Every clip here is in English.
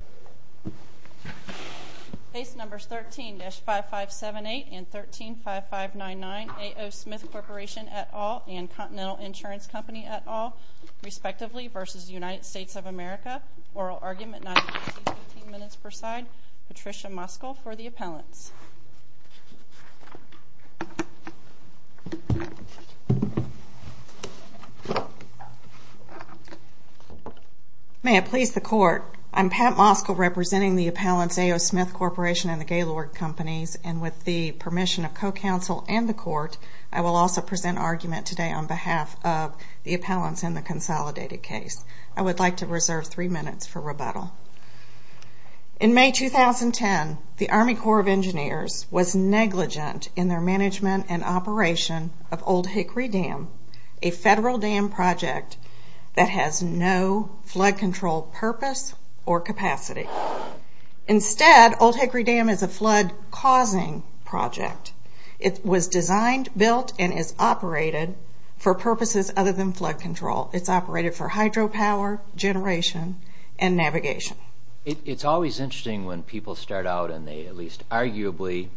v. United States of America Oral Argument, 915.15 minutes per side, Patricia Muskell May it please the Court, I am Pat Muskell representing the appellants A.O. Smith Corporation and the Gaylord Companies and with the permission of co-counsel and the Court, I will also present argument today on behalf of the appellants in the consolidated case. I would like to reserve three minutes for rebuttal. In May 2010, the Army Corps of Engineers was negligent in their management and operation of Old Hickory Dam, a federal dam project that has no flood control purpose or capacity. Instead, Old Hickory Dam is a flood-causing project. It was designed, built, and is operated for purposes other than flood control. It's operated for hydropower generation and navigation. It's always interesting when people start out and they at least arguably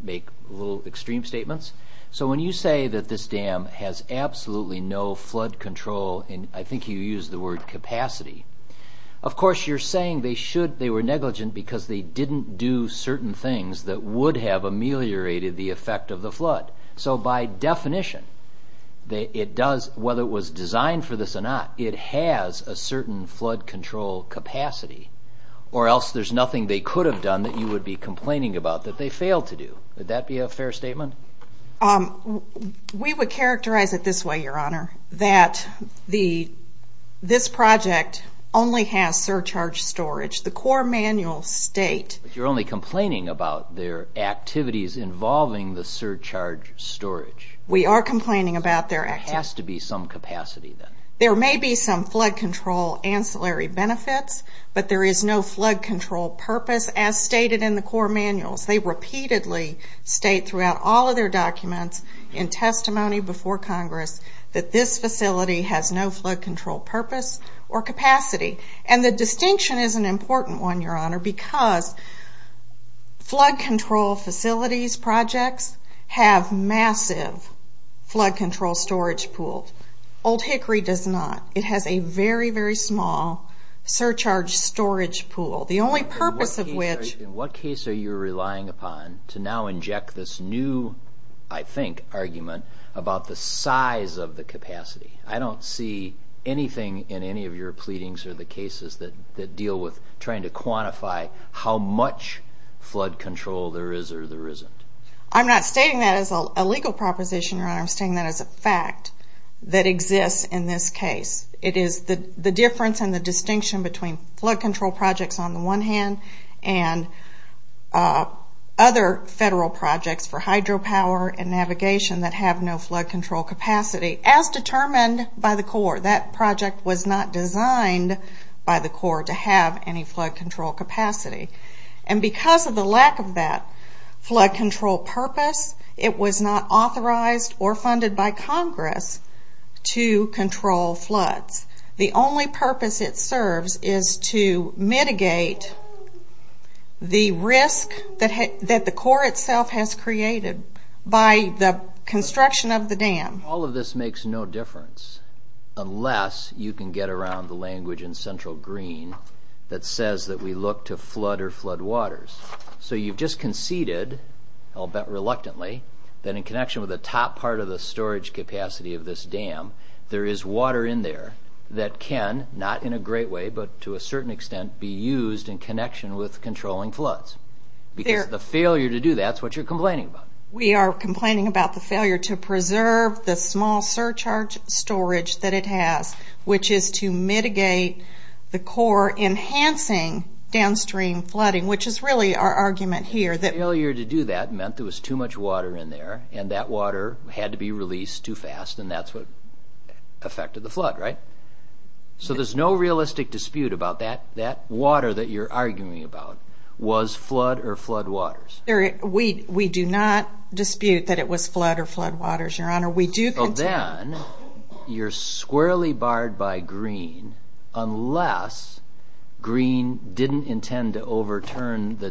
make little extreme statements. So when you say that this dam has absolutely no flood control, and I think you used the word capacity, of course you're saying they were negligent because they didn't do certain things that would have ameliorated the effect of the flood. So by definition, whether it was designed for this or not, it has a certain flood control capacity or else there's nothing they could have done that you would be complaining about that they failed to do. Would that be a fair statement? We would characterize it this way, Your Honor, that this project only has surcharge storage. The Corps manuals state... But you're only complaining about their activities involving the surcharge storage. We are complaining about their activities. There has to be some capacity then. There may be some flood control ancillary benefits, but there is no flood control purpose. As stated in the Corps manuals, they repeatedly state throughout all of their documents in testimony before Congress that this facility has no flood control purpose or capacity. The distinction is an important one, Your Honor, because flood control facilities projects have massive flood control storage pools. Old Hickory does not. It has a very, very small surcharge storage pool. The only purpose of which... In what case are you relying upon to now inject this new, I think, argument about the size of the capacity? I don't see anything in any of your pleadings or the cases that deal with trying to quantify how much flood control there is or there isn't. I'm not stating that as a legal proposition, Your Honor. I'm stating that as a fact that exists in this case. It is the difference and the distinction between flood control projects on the one hand and other federal projects for hydropower and navigation that have no flood control capacity as determined by the Corps. That project was not designed by the Corps to have any flood control capacity. Because of the lack of that flood control purpose, it was not authorized or funded by the Corps to control floods. The only purpose it serves is to mitigate the risk that the Corps itself has created by the construction of the dam. All of this makes no difference unless you can get around the language in central green that says that we look to flood or floodwaters. So you've just conceded, I'll bet reluctantly, that in connection with the top part of the storage capacity of this dam, there is water in there that can, not in a great way, but to a certain extent be used in connection with controlling floods. Because the failure to do that is what you're complaining about. We are complaining about the failure to preserve the small surcharge storage that it has, which is to mitigate the Corps enhancing downstream flooding, which is really our argument here. Failure to do that meant there was too much water in there, and that water had to be released too fast, and that's what affected the flood, right? So there's no realistic dispute about that water that you're arguing about. Was flood or floodwaters? We do not dispute that it was flood or floodwaters, Your Honor. Well then, you're squarely barred by green unless green didn't intend to overturn the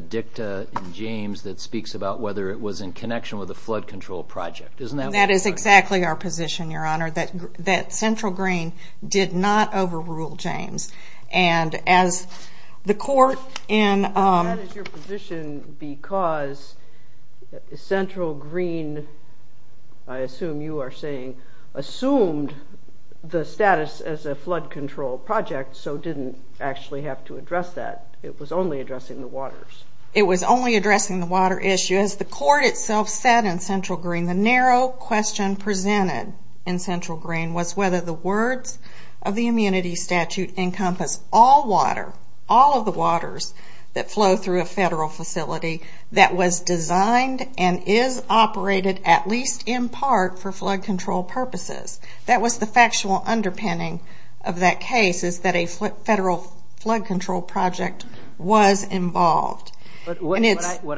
claims that speaks about whether it was in connection with a flood control project. Isn't that what you're saying? That is exactly our position, Your Honor, that Central Green did not overrule James. And as the Corps in... That is your position because Central Green, I assume you are saying, assumed the status as a flood control project, so didn't actually have to address that. It was only addressing the waters. It was only addressing the water issue. As the Court itself said in Central Green, the narrow question presented in Central Green was whether the words of the immunity statute encompass all water, all of the waters that flow through a federal facility that was designed and is operated at least in part for flood control purposes. That was the factual underpinning of that case, is that a federal flood control project was involved. What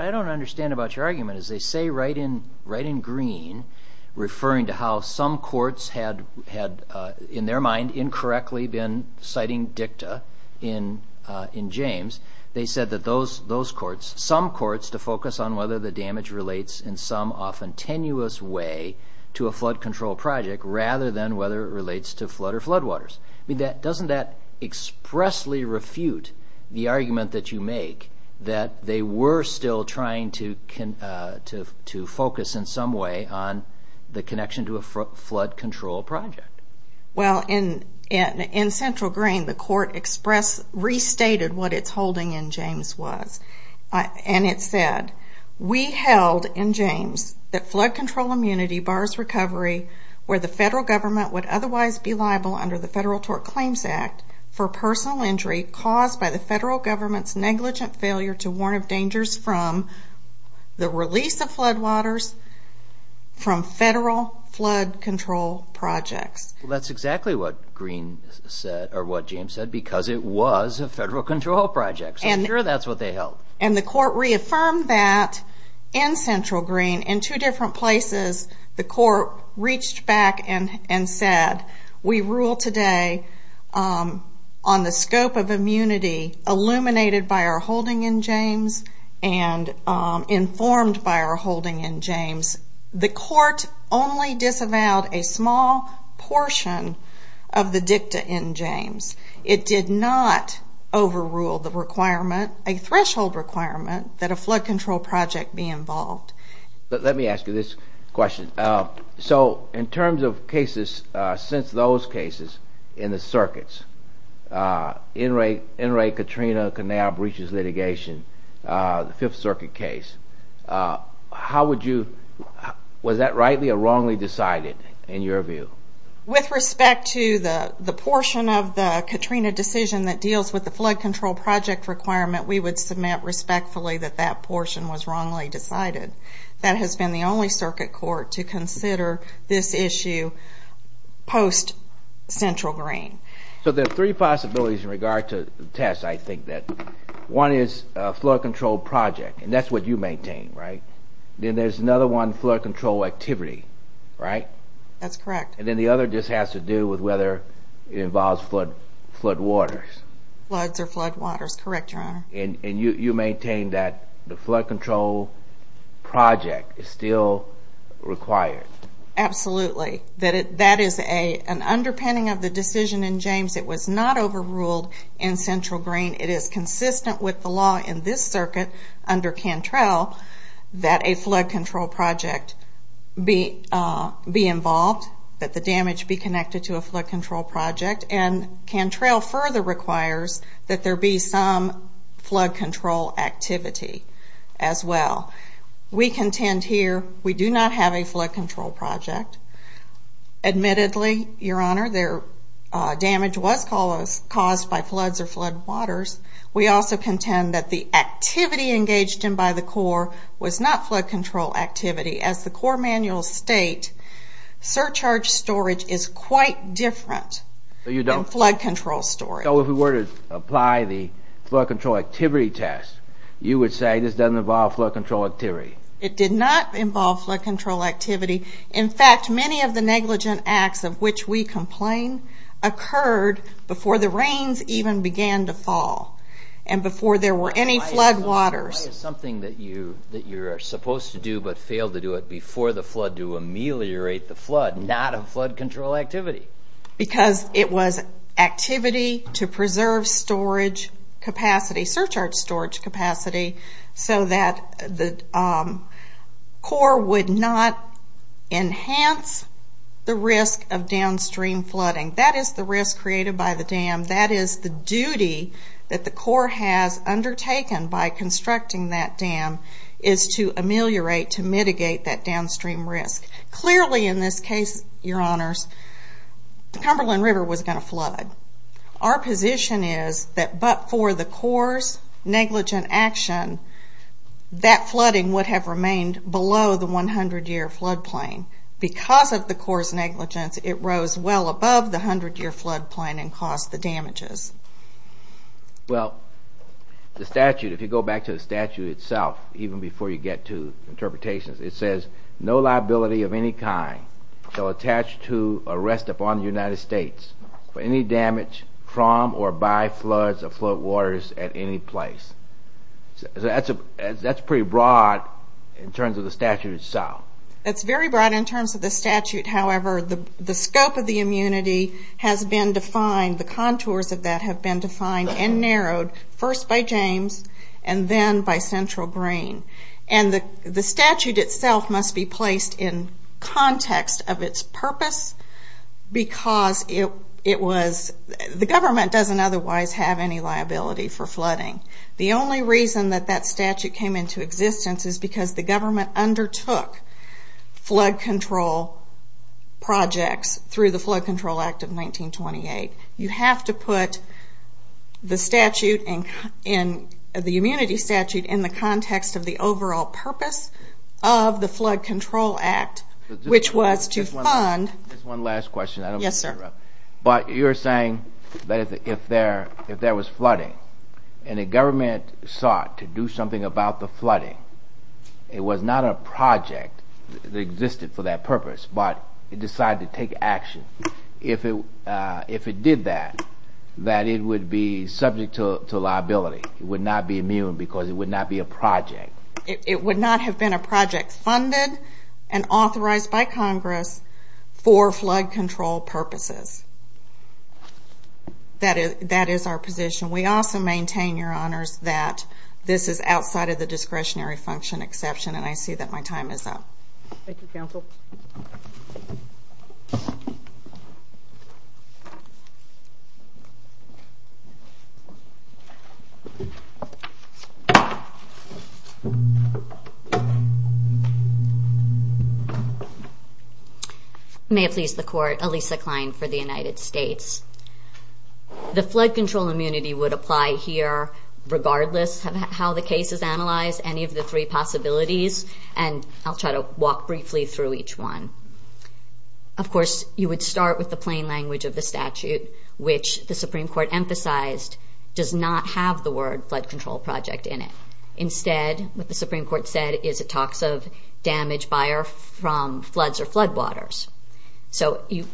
I don't understand about your argument is they say right in green, referring to how some courts had, in their mind, incorrectly been citing dicta in James, they said that some courts to focus on whether the damage relates in some often tenuous way to a flood control project rather than whether it relates to flood or flood waters. I mean, doesn't that expressly refute the argument that you make that they were still trying to focus in some way on the connection to a flood control project? Well, in Central Green, the Court expressed, restated what its holding in James was. And it said, we held in James that flood control immunity bars recovery where the federal government would otherwise be liable under the Federal Tort Claims Act for personal injury caused by the federal government's negligent failure to warn of dangers from the release of flood waters from federal flood control projects. That's exactly what Green said, or what James said, because it was a federal control project. So I'm sure that's what they held. And the Court reaffirmed that in Central Green in two different places, the Court reached back and said, we rule today on the scope of immunity illuminated by our holding in James and informed by our holding in James. The Court only disavowed a small portion of the dicta in James. It did not overrule the threshold requirement that a flood control project be involved. Let me ask you this question. So in terms of cases, since those cases in the circuits, NRA Katrina breaches litigation, the Fifth Circuit case, how would you, was that rightly or wrongly decided in your view? With respect to the portion of the Katrina decision that deals with the flood control project requirement, we would submit respectfully that that portion was wrongly decided. That has been the only circuit court to consider this issue post-Central Green. So there are three possibilities in regard to the test, I think, that one is a flood control project, and that's what you maintain, right? Then there's another one, flood control activity, right? That's correct. And then the other just has to do with whether it involves floodwaters. Floods or floodwaters, correct, Your Honor. And you maintain that the flood control project is still required. Absolutely. That is an underpinning of the decision in James. It was not overruled in Central Green. It is consistent with the law in this circuit under Cantrell that a flood damage be connected to a flood control project, and Cantrell further requires that there be some flood control activity as well. We contend here we do not have a flood control project. Admittedly, Your Honor, their damage was caused by floods or floodwaters. We also contend that the activity engaged in by the Corps was not flood control activity. As the law states, it is quite different than flood control story. So if we were to apply the flood control activity test, you would say this doesn't involve flood control activity? It did not involve flood control activity. In fact, many of the negligent acts of which we complain occurred before the rains even began to fall and before there were any floodwaters. Why is something that you're supposed to do but failed to do it before the flood to ameliorate the flood, not a flood control activity? Because it was activity to preserve storage capacity, surcharge storage capacity, so that the Corps would not enhance the risk of downstream flooding. That is the risk created by the dam. That is the duty that the Corps has undertaken by constructing that dam is to ameliorate, to mitigate that downstream risk. Clearly, in this case, Your Honors, the Cumberland River was going to flood. Our position is that but for the Corps' negligent action, that flooding would have remained below the 100-year flood plain. Because of the Corps' negligence, it rose well above the 100-year flood plain and caused the damages. Well, the statute, if you go back to the statute itself, even before you get to interpretations, it says, no liability of any kind shall attach to or rest upon the United States for any damage from or by floods or floodwaters at any place. That's pretty broad in terms of the statute itself. That's very broad in terms of the statute. However, the scope of the immunity has been defined, the contours of that have been defined and narrowed, first by James and then by Central Green. The statute itself must be placed in context of its purpose because the government doesn't otherwise have any liability for flooding. The only reason that that statute came into existence is because the government undertook flood control projects through the Flood Control Act of 1928. You have to put the statute, the immunity statute, in the context of the overall purpose of the Flood Control Act, which was to fund... Just one last question. I don't want to interrupt. Yes, sir. But you're saying that if there was flooding and the government sought to do something about the flooding, it was not a project that existed for that purpose, but it decided to take action. If it did that, that it would be subject to liability. It would not be immune because it would not be a project. It would not have been a project funded and authorized by Congress for flood control purposes. That is our position. We also maintain, Your Honors, that this is outside of the discretionary function exception, and I see that my time is up. Thank you, Counsel. May it please the Court, Alisa Klein for the United States. The flood control immunity would apply here regardless of how the case is analyzed, any of the three possibilities, and I'll try to walk briefly through each one. Of course, you would start with the plain language of the statute, which the Supreme Court emphasized does not have the word flood control project in it. Instead, what the Supreme Court said is it talks of damage by or from floods or floodwaters. You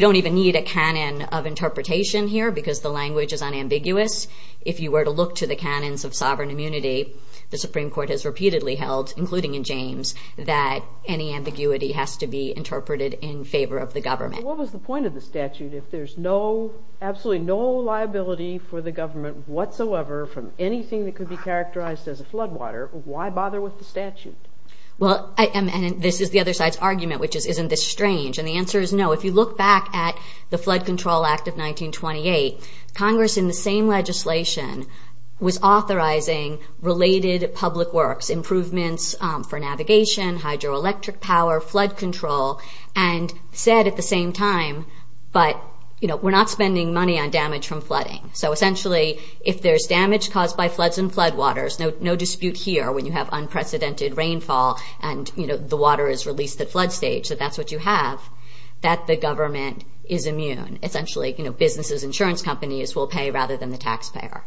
don't even need a canon of interpretation here because the language is unambiguous. If you were to look to the canons of sovereign immunity, the Supreme Court has repeatedly held, including in James, that any ambiguity has to be interpreted in favor of the government. What was the point of the statute? If there's absolutely no liability for the government whatsoever from anything that could be characterized as a floodwater, why bother with the statute? This is the other side's argument, which is, isn't this strange? The answer is no. If you look back at the Flood Control Act of 1928, Congress in the same legislation was authorizing related public works, improvements for navigation, hydroelectric power, flood control, and said at the same time, but we're not spending money on damage from flooding. Essentially, if there's damage caused by floods and floodwaters, no dispute here when you have unprecedented rainfall and the water is released at flood stage, that that's what you have, that the government is immune. Essentially, businesses, insurance companies will pay rather than the taxpayer.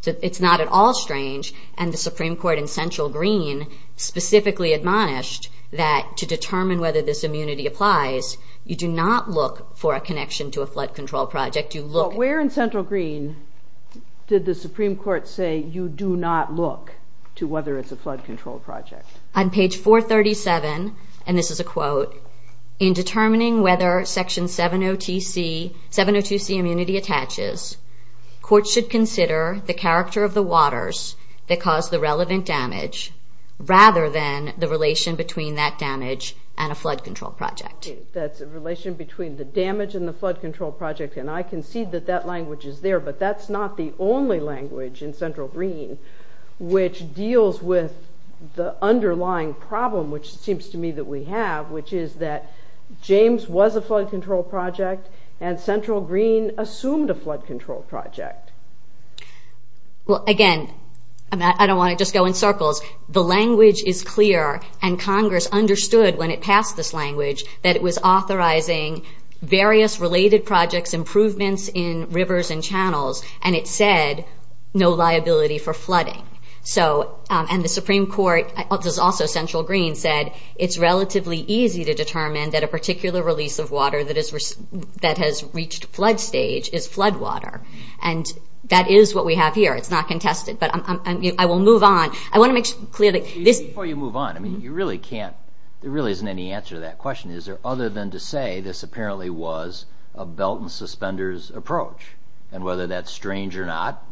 So it's not at all strange, and the Supreme Court in Central Green specifically admonished that to determine whether this immunity applies, you do not look for a connection to a flood control project, you look... But where in Central Green did the Supreme Court say you do not look to whether it's a flood control project? On page 437, and this is a quote, in determining whether Section 702C immunity attaches, court should consider the character of the waters that cause the relevant damage, rather than the relation between that damage and a flood control project. That's a relation between the damage and the flood control project, and I concede that that language is there, but that's not the only language in Central Green which deals with the underlying problem, which seems to me that we have, which is that James was a flood control project. Well, again, I don't want to just go in circles. The language is clear, and Congress understood when it passed this language that it was authorizing various related projects, improvements in rivers and channels, and it said no liability for flooding. So, and the Supreme Court, which is also Central Green, said it's relatively easy to determine that a particular release of water that has reached flood stage is flood water, and that is what we have here. It's not contested, but I will move on. I want to make clear that this... Before you move on, I mean, you really can't, there really isn't any answer to that question. Is there other than to say this apparently was a belt and suspenders approach, and whether that's strange or not,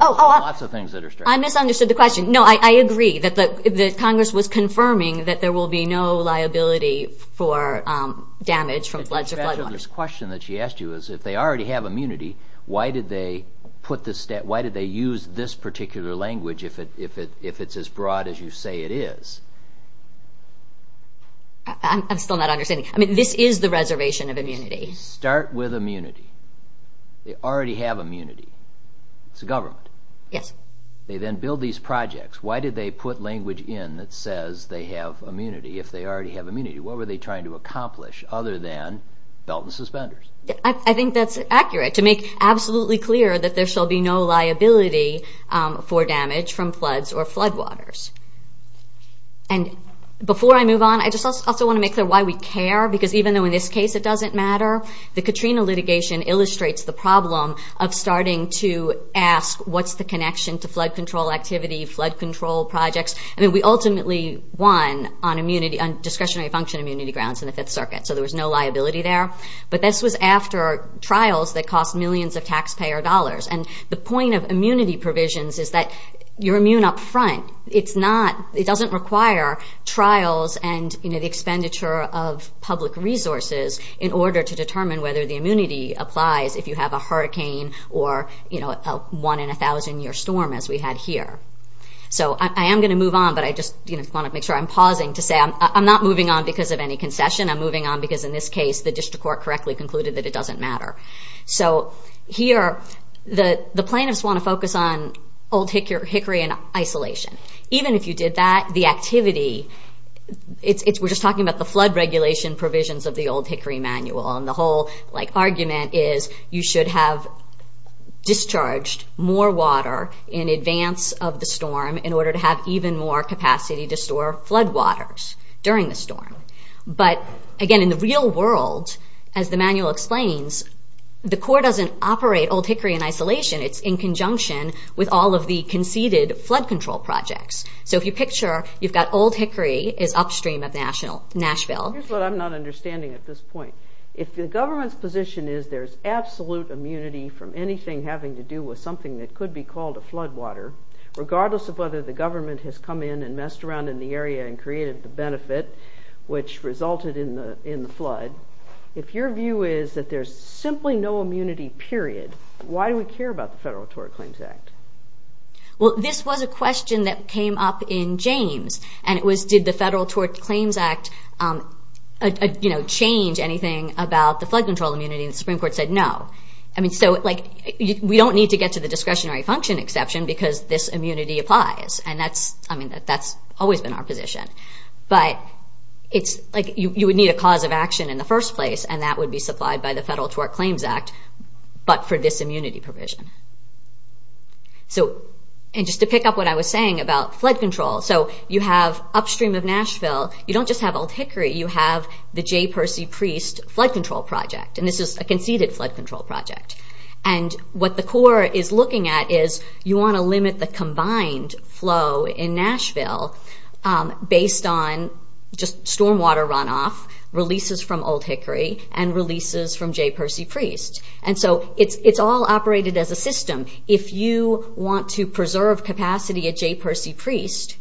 lots of things that are strange. I misunderstood the question. No, I agree that Congress was confirming that there will be no liability for damage from floods or flood waters. This question that she asked you is, if they already have immunity, why did they use this particular language if it's as broad as you say it is? I'm still not understanding. I mean, this is the reservation of immunity. Start with immunity. They already have immunity. It's the government. Yes. They then build these projects. Why did they put language in that says they have immunity if they already have immunity? What were they trying to accomplish other than belt and suspenders? I think that's accurate, to make absolutely clear that there shall be no liability for damage from floods or flood waters. Before I move on, I just also want to make clear why we care, because even though in this case it doesn't matter, the Katrina litigation illustrates the problem of starting to ask what's the connection to flood control activity, flood control projects. We ultimately won on discretionary function immunity grounds in the Fifth Circuit, so there was no liability there. But this was after trials that cost millions of taxpayer dollars. The point of immunity provisions is that you're immune up front. It doesn't require trials and the expenditure of public resources in order to determine whether the immunity applies if you have a hurricane or a one-in-a-thousand-year storm as we had here. So I am going to move on, but I just want to make sure I'm pausing to say I'm not moving on because of any concession. I'm moving on because in this case the district court correctly concluded that it doesn't matter. So here, the plaintiffs want to focus on old hickory and isolation. Even if you did that, the activity, we're just talking about the flood regulation provisions of the old hickory manual, and the whole argument is you should have discharged more water in advance of the storm in order to have even more capacity to store flood waters during the storm. But again, in the real world, as the manual explains, the court doesn't operate old hickory in isolation. It's in conjunction with all of the conceded flood control projects. So if you picture, you've got old hickory is upstream of Nashville. Here's what I'm not understanding at this point. If the government's position is there's absolute immunity from anything having to do with something that could be called a flood water, regardless of whether the government has come in and messed around in the area and created the benefit, which resulted in the flood, if your view is that there's simply no immunity, period, why do we care about the Federal Tort Claims Act? Well, this was a question that came up in James, and it was did the Federal Tort Claims Act change anything about the flood control immunity, and the Supreme Court said no. So we don't need to get to the discretionary function exception because this immunity applies, and that's always been our position. But you would need a cause of action in the first place, and that would be supplied by the Federal Tort Claims Act, but for this immunity provision. So, and just to pick up what I was saying about flood control, so you have upstream of Nashville, you don't just have old hickory, you have the Jay Percy Priest Flood Control Project, and this is a conceded flood control project. And what the Corps is looking at is you want to limit the combined flow in Nashville based on just storm water runoff, releases from old hickory, and releases from Jay Percy Priest. And so it's all operated as a system. If you want to preserve capacity at Jay Percy Priest,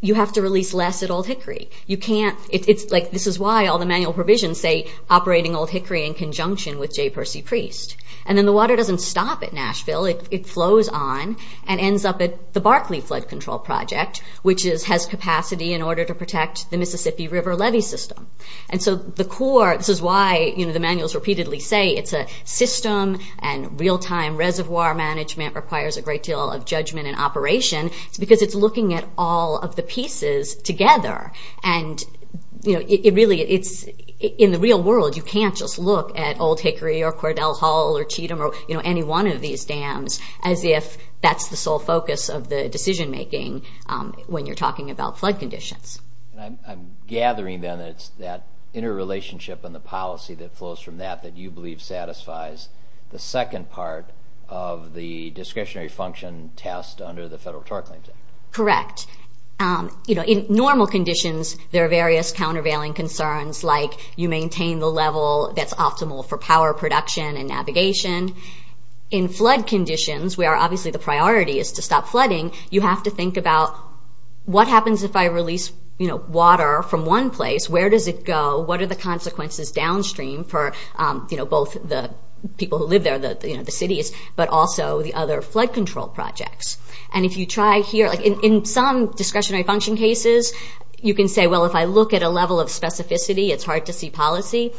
you have to release less at old hickory. You can't, it's like, this is why all the manual provisions say operating old hickory in conjunction with Jay Percy Priest. And then the water doesn't stop at Nashville, it flows on and ends up at the Barkley Flood Control Project, which has capacity in order to protect the Mississippi River levee system. And so the Corps, this is why the manuals repeatedly say it's a system, and real-time reservoir management requires a great deal of judgment and operation. It's because it's looking at all of the pieces together. And it really, in the real world, you can't just look at old hickory or Cordell Hall or Cheatham or any one of these dams as if that's the sole focus of the decision making when you're talking about flood conditions. And I'm gathering then that it's that interrelationship and the policy that flows from that that you believe satisfies the second part of the discretionary function test under the Federal Torque Claims Act. Correct. You know, in normal conditions, there are various countervailing concerns like you maintain the level that's optimal for power production and navigation. In flood conditions, where obviously the priority is to stop flooding, you have to think about what happens if I release water from one place, where does it go, what are the consequences downstream for both the people who live there, the cities, but also the other flood control projects. And if you try here, in some discretionary function cases, you can say, well, if I look at a level of specificity, it's hard to see policy,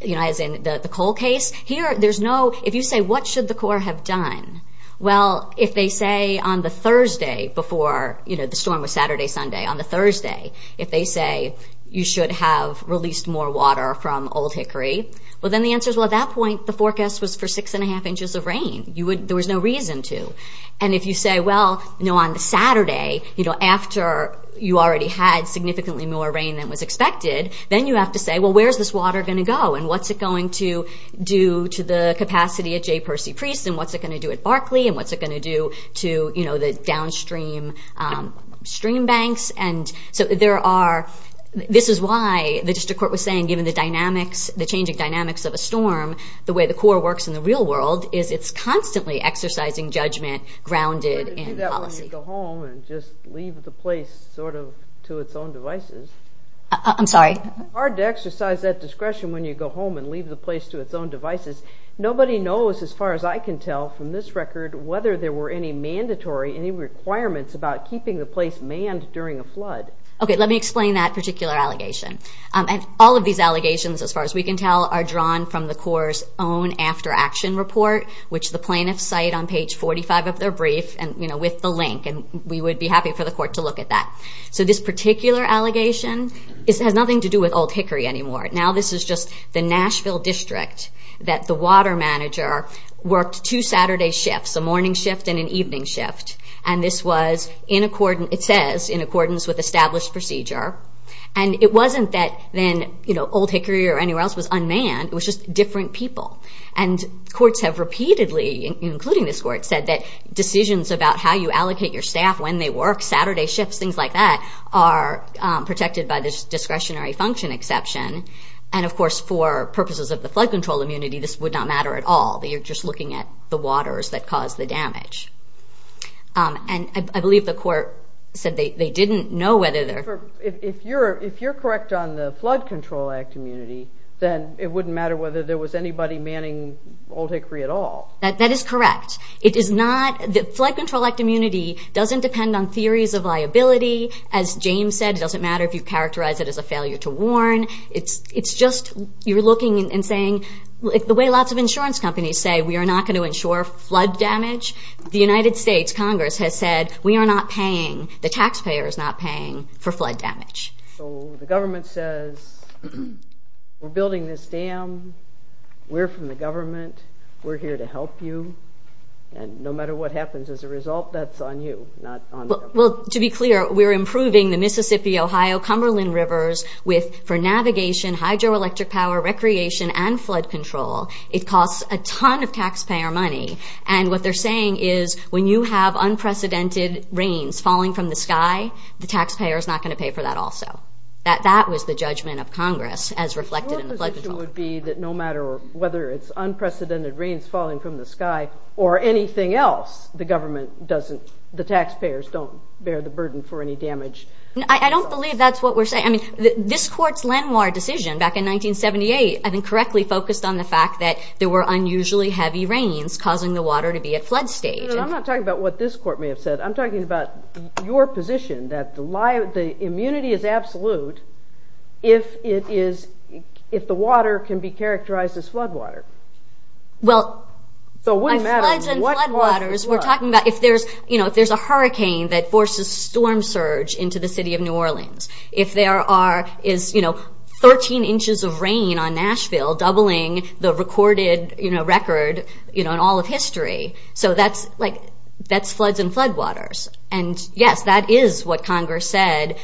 as in the coal case. Here, there's no, if you say what should the Corps have done, well, if they say on the Thursday before the storm was Saturday, Sunday, on the Thursday, if they say you should have released more water from Old Hickory, well, then the answer is, well, at that point, the forecast was for six and a half inches of rain. There was no reason to. And if you say, well, you know, on the Saturday, you know, after you already had significantly more rain than was expected, then you have to say, well, where's this water going to go and what's it going to do to the capacity at J. Percy Priest and what's it going to do at Barclay and what's it going to do to, you know, the downstream stream banks. And so there are, this is why the district court was saying, given the dynamics, the changing dynamics of a storm, the way the Corps works in the real world is it's constantly exercising judgment grounded in policy. But you do that when you go home and just leave the place sort of to its own devices. I'm sorry? Hard to exercise that discretion when you go home and leave the place to its own devices. Nobody knows, as far as I can tell from this record, whether there were any mandatory, any requirements about keeping the place manned during a flood. Okay, let me explain that particular allegation. And all of these allegations, as far as we can tell, are drawn from the Corps' own after action report, which the plaintiffs cite on page 45 of their brief and, you know, with the link. And we would be happy for the court to look at that. So this particular allegation has nothing to do with Old Hickory anymore. Now this is just the Nashville district that the water manager worked two Saturday shifts, a morning shift and an evening shift. And this was in accordance, it says, in accordance with established procedure. And it wasn't that then, you know, Old Hickory or anywhere else was unmanned. It was just different people. And courts have repeatedly, including this court, said that decisions about how you allocate your staff, when they work, Saturday shifts, things like that, are protected by this discretionary function exception. And of course, for purposes of the Flood Control Immunity, this would not matter at all. You're just looking at the waters that caused the damage. And I believe the court said they didn't know whether there... If you're correct on the Flood Control Act Immunity, then it wouldn't matter whether there was anybody manning Old Hickory at all. That is correct. It is not, the Flood Control Act Immunity doesn't depend on theories of liability. As James said, it doesn't matter if you characterize it as a failure to warn. It's just, you're looking and saying, the way lots of insurance companies say, we are not going to insure flood damage. The United States Congress has said, we are not paying, the taxpayer is not paying for flood damage. So the government says, we're building this dam, we're from the government, we're here to help you. And no matter what happens as a result, that's on you, not on the government. To be clear, we're improving the Mississippi, Ohio, Cumberland rivers for navigation, hydroelectric power, recreation, and flood control. It costs a ton of taxpayer money. And what they're saying is, when you have unprecedented rains falling from the sky, the taxpayer is not going to pay for that also. That was the judgment of Congress as reflected in the Flood Control Act. Your position would be that no matter whether it's unprecedented rains falling from the sky, the taxpayer is not going to bear the burden for any damage. I don't believe that's what we're saying. I mean, this court's landmark decision back in 1978, I think, correctly focused on the fact that there were unusually heavy rains causing the water to be at flood stage. I'm not talking about what this court may have said. I'm talking about your position that the immunity is absolute if the water can be characterized as flood water. Well, by floods and flood waters, we're talking about if there's a hurricane that forces a storm surge into the city of New Orleans, if there is 13 inches of rain on Nashville doubling the recorded record in all of history. So that's floods and flood waters. And yes, that is what Congress said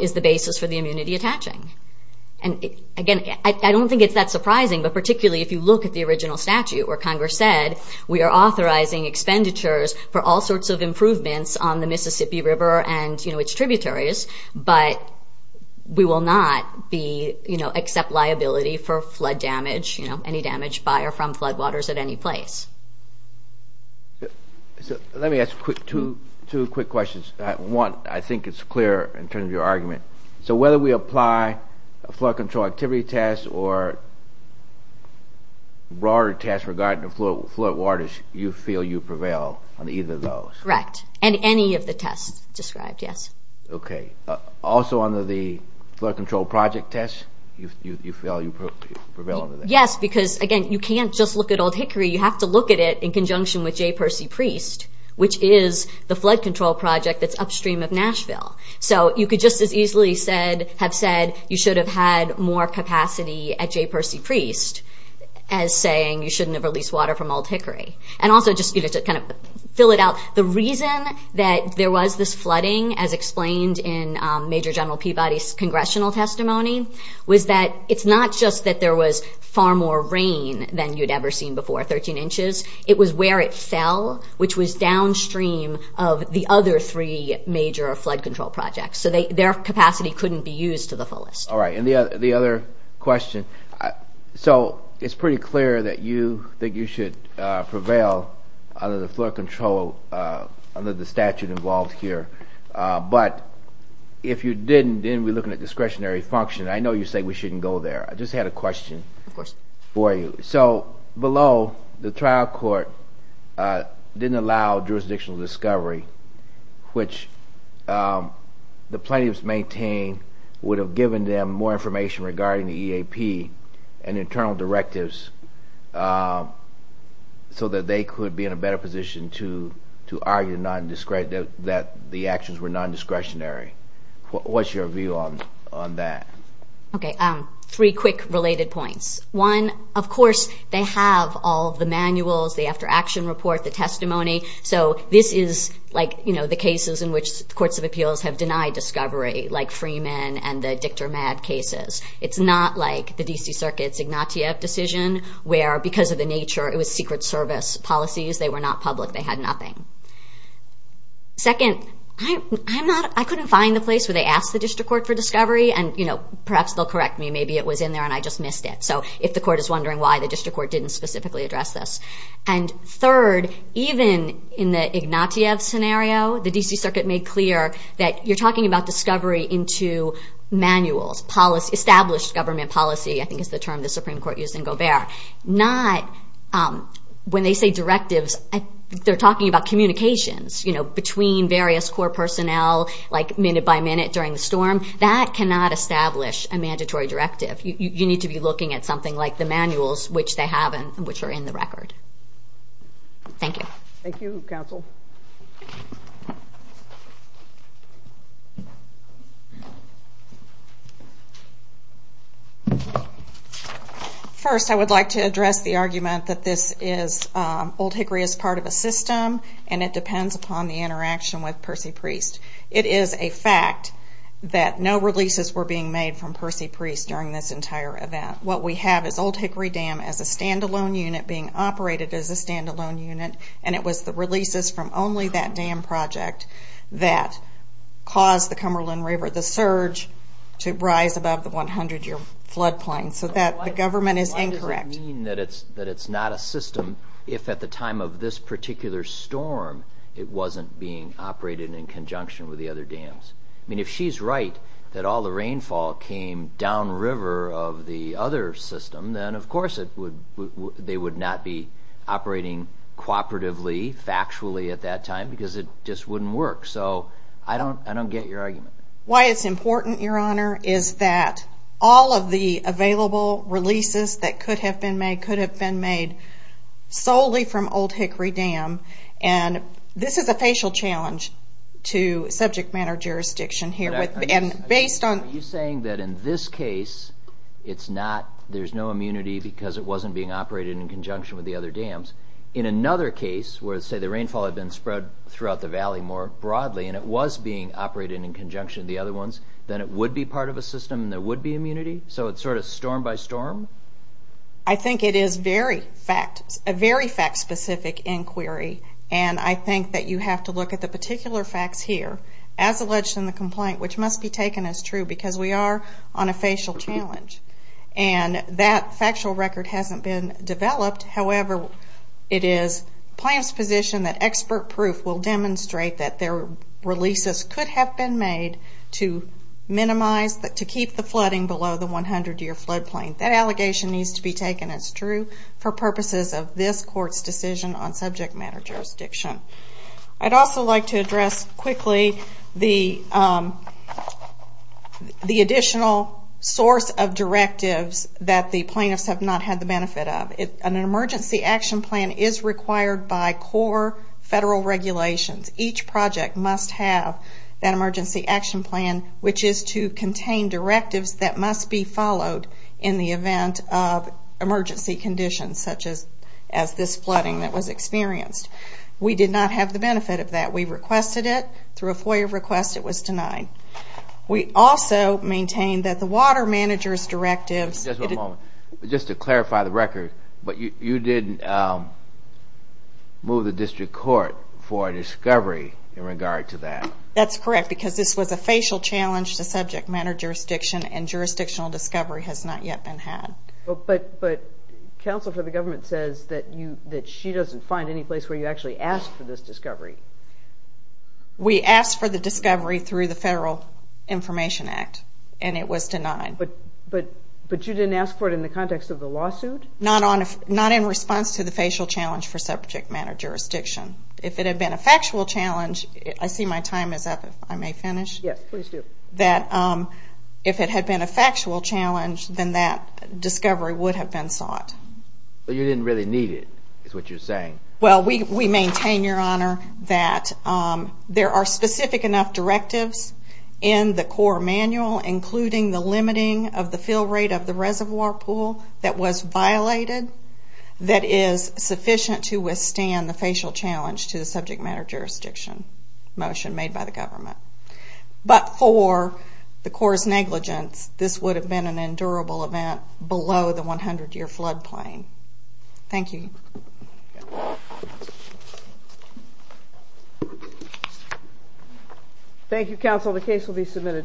is the basis for the immunity attaching. And again, I don't think it's that surprising, but particularly if you look at the original statute where Congress said, we are authorizing expenditures for all sorts of improvements on the Mississippi River and its tributaries, but we will not accept liability for flood damage, any damage by or from flood waters at any place. Let me ask two quick questions. One, I think it's clear in terms of your argument. So whether we apply a flood control activity test or a broader test regarding the flood waters, you feel you prevail on either of those? Correct. And any of the tests described, yes. Okay. Also under the flood control project test, you feel you prevail under that? Yes, because again, you can't just look at Old Hickory. You have to look at it in conjunction with Jay Percy Priest, which is the flood control project that's upstream of Nashville. So you could just as easily have said you should have had more capacity at Jay Percy Priest as saying you shouldn't have released water from Old Hickory. And also just to kind of fill it out, the reason that there was this flooding, as explained in Major General Peabody's congressional testimony, was that it's not just that there was far more rain than you'd ever seen before, 13 inches. It was where it fell, which was downstream of the other three major flood control projects. So their capacity couldn't be used to the fullest. All right. And the other question. So it's pretty clear that you think you should prevail under the flood control, under the statute involved here. But if you didn't, then we're looking at discretionary function. I know you say we shouldn't go there. I just had a question for you. So below, the trial court didn't allow jurisdictional discovery, which the plaintiffs maintain would have given them more information regarding the EAP and internal directives, so that they could be in a better position to argue that the actions were non-discretionary. What's your view on that? Okay. Three quick related points. One, of course, they have all the manuals, the after action report, the testimony. So this is like the cases in which courts of appeals have denied discovery, like Freeman and the Dictor Mad cases. It's not like the D.C. Circuit's Ignatieff decision, where because of the nature, it was secret service policies. They were not public. They had nothing. Second, I couldn't find the place where they asked the district court for discovery. And perhaps they'll correct me. Maybe it was in there and I just missed it. So if the court is wondering why, the district court didn't specifically address this. And third, even in the Ignatieff scenario, the D.C. Circuit made clear that you're talking about discovery into manuals, established government policy, I think is the term the Supreme Court used in Gobert. Not when they say directives, they're talking about communications, you know, between various core personnel, like minute by minute during the storm. That cannot establish a mandatory directive. You need to be looking at something like the manuals, which they have and which are in the record. Thank you. Thank you, counsel. First, I would like to address the argument that this is, Old Hickory is part of a system and it depends upon the interaction with Percy Priest. It is a fact that no releases were being made from Percy Priest during this entire event. What we have is Old Hickory Dam as a stand-alone unit being operated as a stand-alone unit, and it was the releases from only that dam project that caused the Cumberland River, the surge, to rise above the 100-year flood plain, so that the government is incorrect. Why does it mean that it's not a system if at the time of this particular storm it wasn't being operated in conjunction with the other dams? I mean, if she's right that all the rainfall came downriver of the other system, then of course they would not be operating cooperatively, factually at that time, because it just wouldn't work. I don't get your argument. Why it's important, Your Honor, is that all of the available releases that could have been made could have been made solely from Old Hickory Dam, and this is a facial challenge to subject matter jurisdiction here. Are you saying that in this case there's no immunity because it wasn't being operated in conjunction with the other dams? In another case where, say, the rainfall had been spread throughout the valley more broadly and it was being operated in conjunction with the other ones, then it would be part of a system and there would be immunity? So it's sort of storm by storm? I think it is very fact, a very fact-specific inquiry, and I think that you have to look at the particular facts here as alleged in the complaint, which must be taken as true because we are on a facial challenge. And that factual record hasn't been developed. However, it is the plaintiff's position that expert proof will demonstrate that their releases could have been made to minimize, to keep the flooding below the 100-year flood plain. That allegation needs to be taken as true for purposes of this Court's decision on subject matter jurisdiction. I'd also like to address quickly the additional source of directives that the plaintiffs have not had the benefit of. An emergency action plan is required by core federal regulations. Each project must have that emergency action plan, which is to contain directives that must be followed in the event of emergency conditions, such as this flooding that was reported. We did not have the benefit of that. We requested it. Through a FOIA request it was denied. We also maintain that the water manager's directives... Just a moment. Just to clarify the record, you didn't move the district court for a discovery in regard to that? That's correct, because this was a facial challenge to subject matter jurisdiction and jurisdictional discovery has not yet been had. But counsel for the government says that she doesn't find any place where you actually asked for this discovery. We asked for the discovery through the Federal Information Act, and it was denied. But you didn't ask for it in the context of the lawsuit? Not in response to the facial challenge for subject matter jurisdiction. If it had been a factual challenge, I see my time is up, if I may finish. Yes, please do. If it had been a factual challenge, then that discovery would have been sought. But you didn't really need it, is what you're saying. We maintain, Your Honor, that there are specific enough directives in the Corps manual, including the limiting of the fill rate of the reservoir pool that was violated that is sufficient to withstand the facial challenge to the subject matter jurisdiction motion made by the government. But for the Corps' negligence, this would have been an endurable event below the 100-year flood plain. Thank you. Thank you, counsel. The case will be submitted.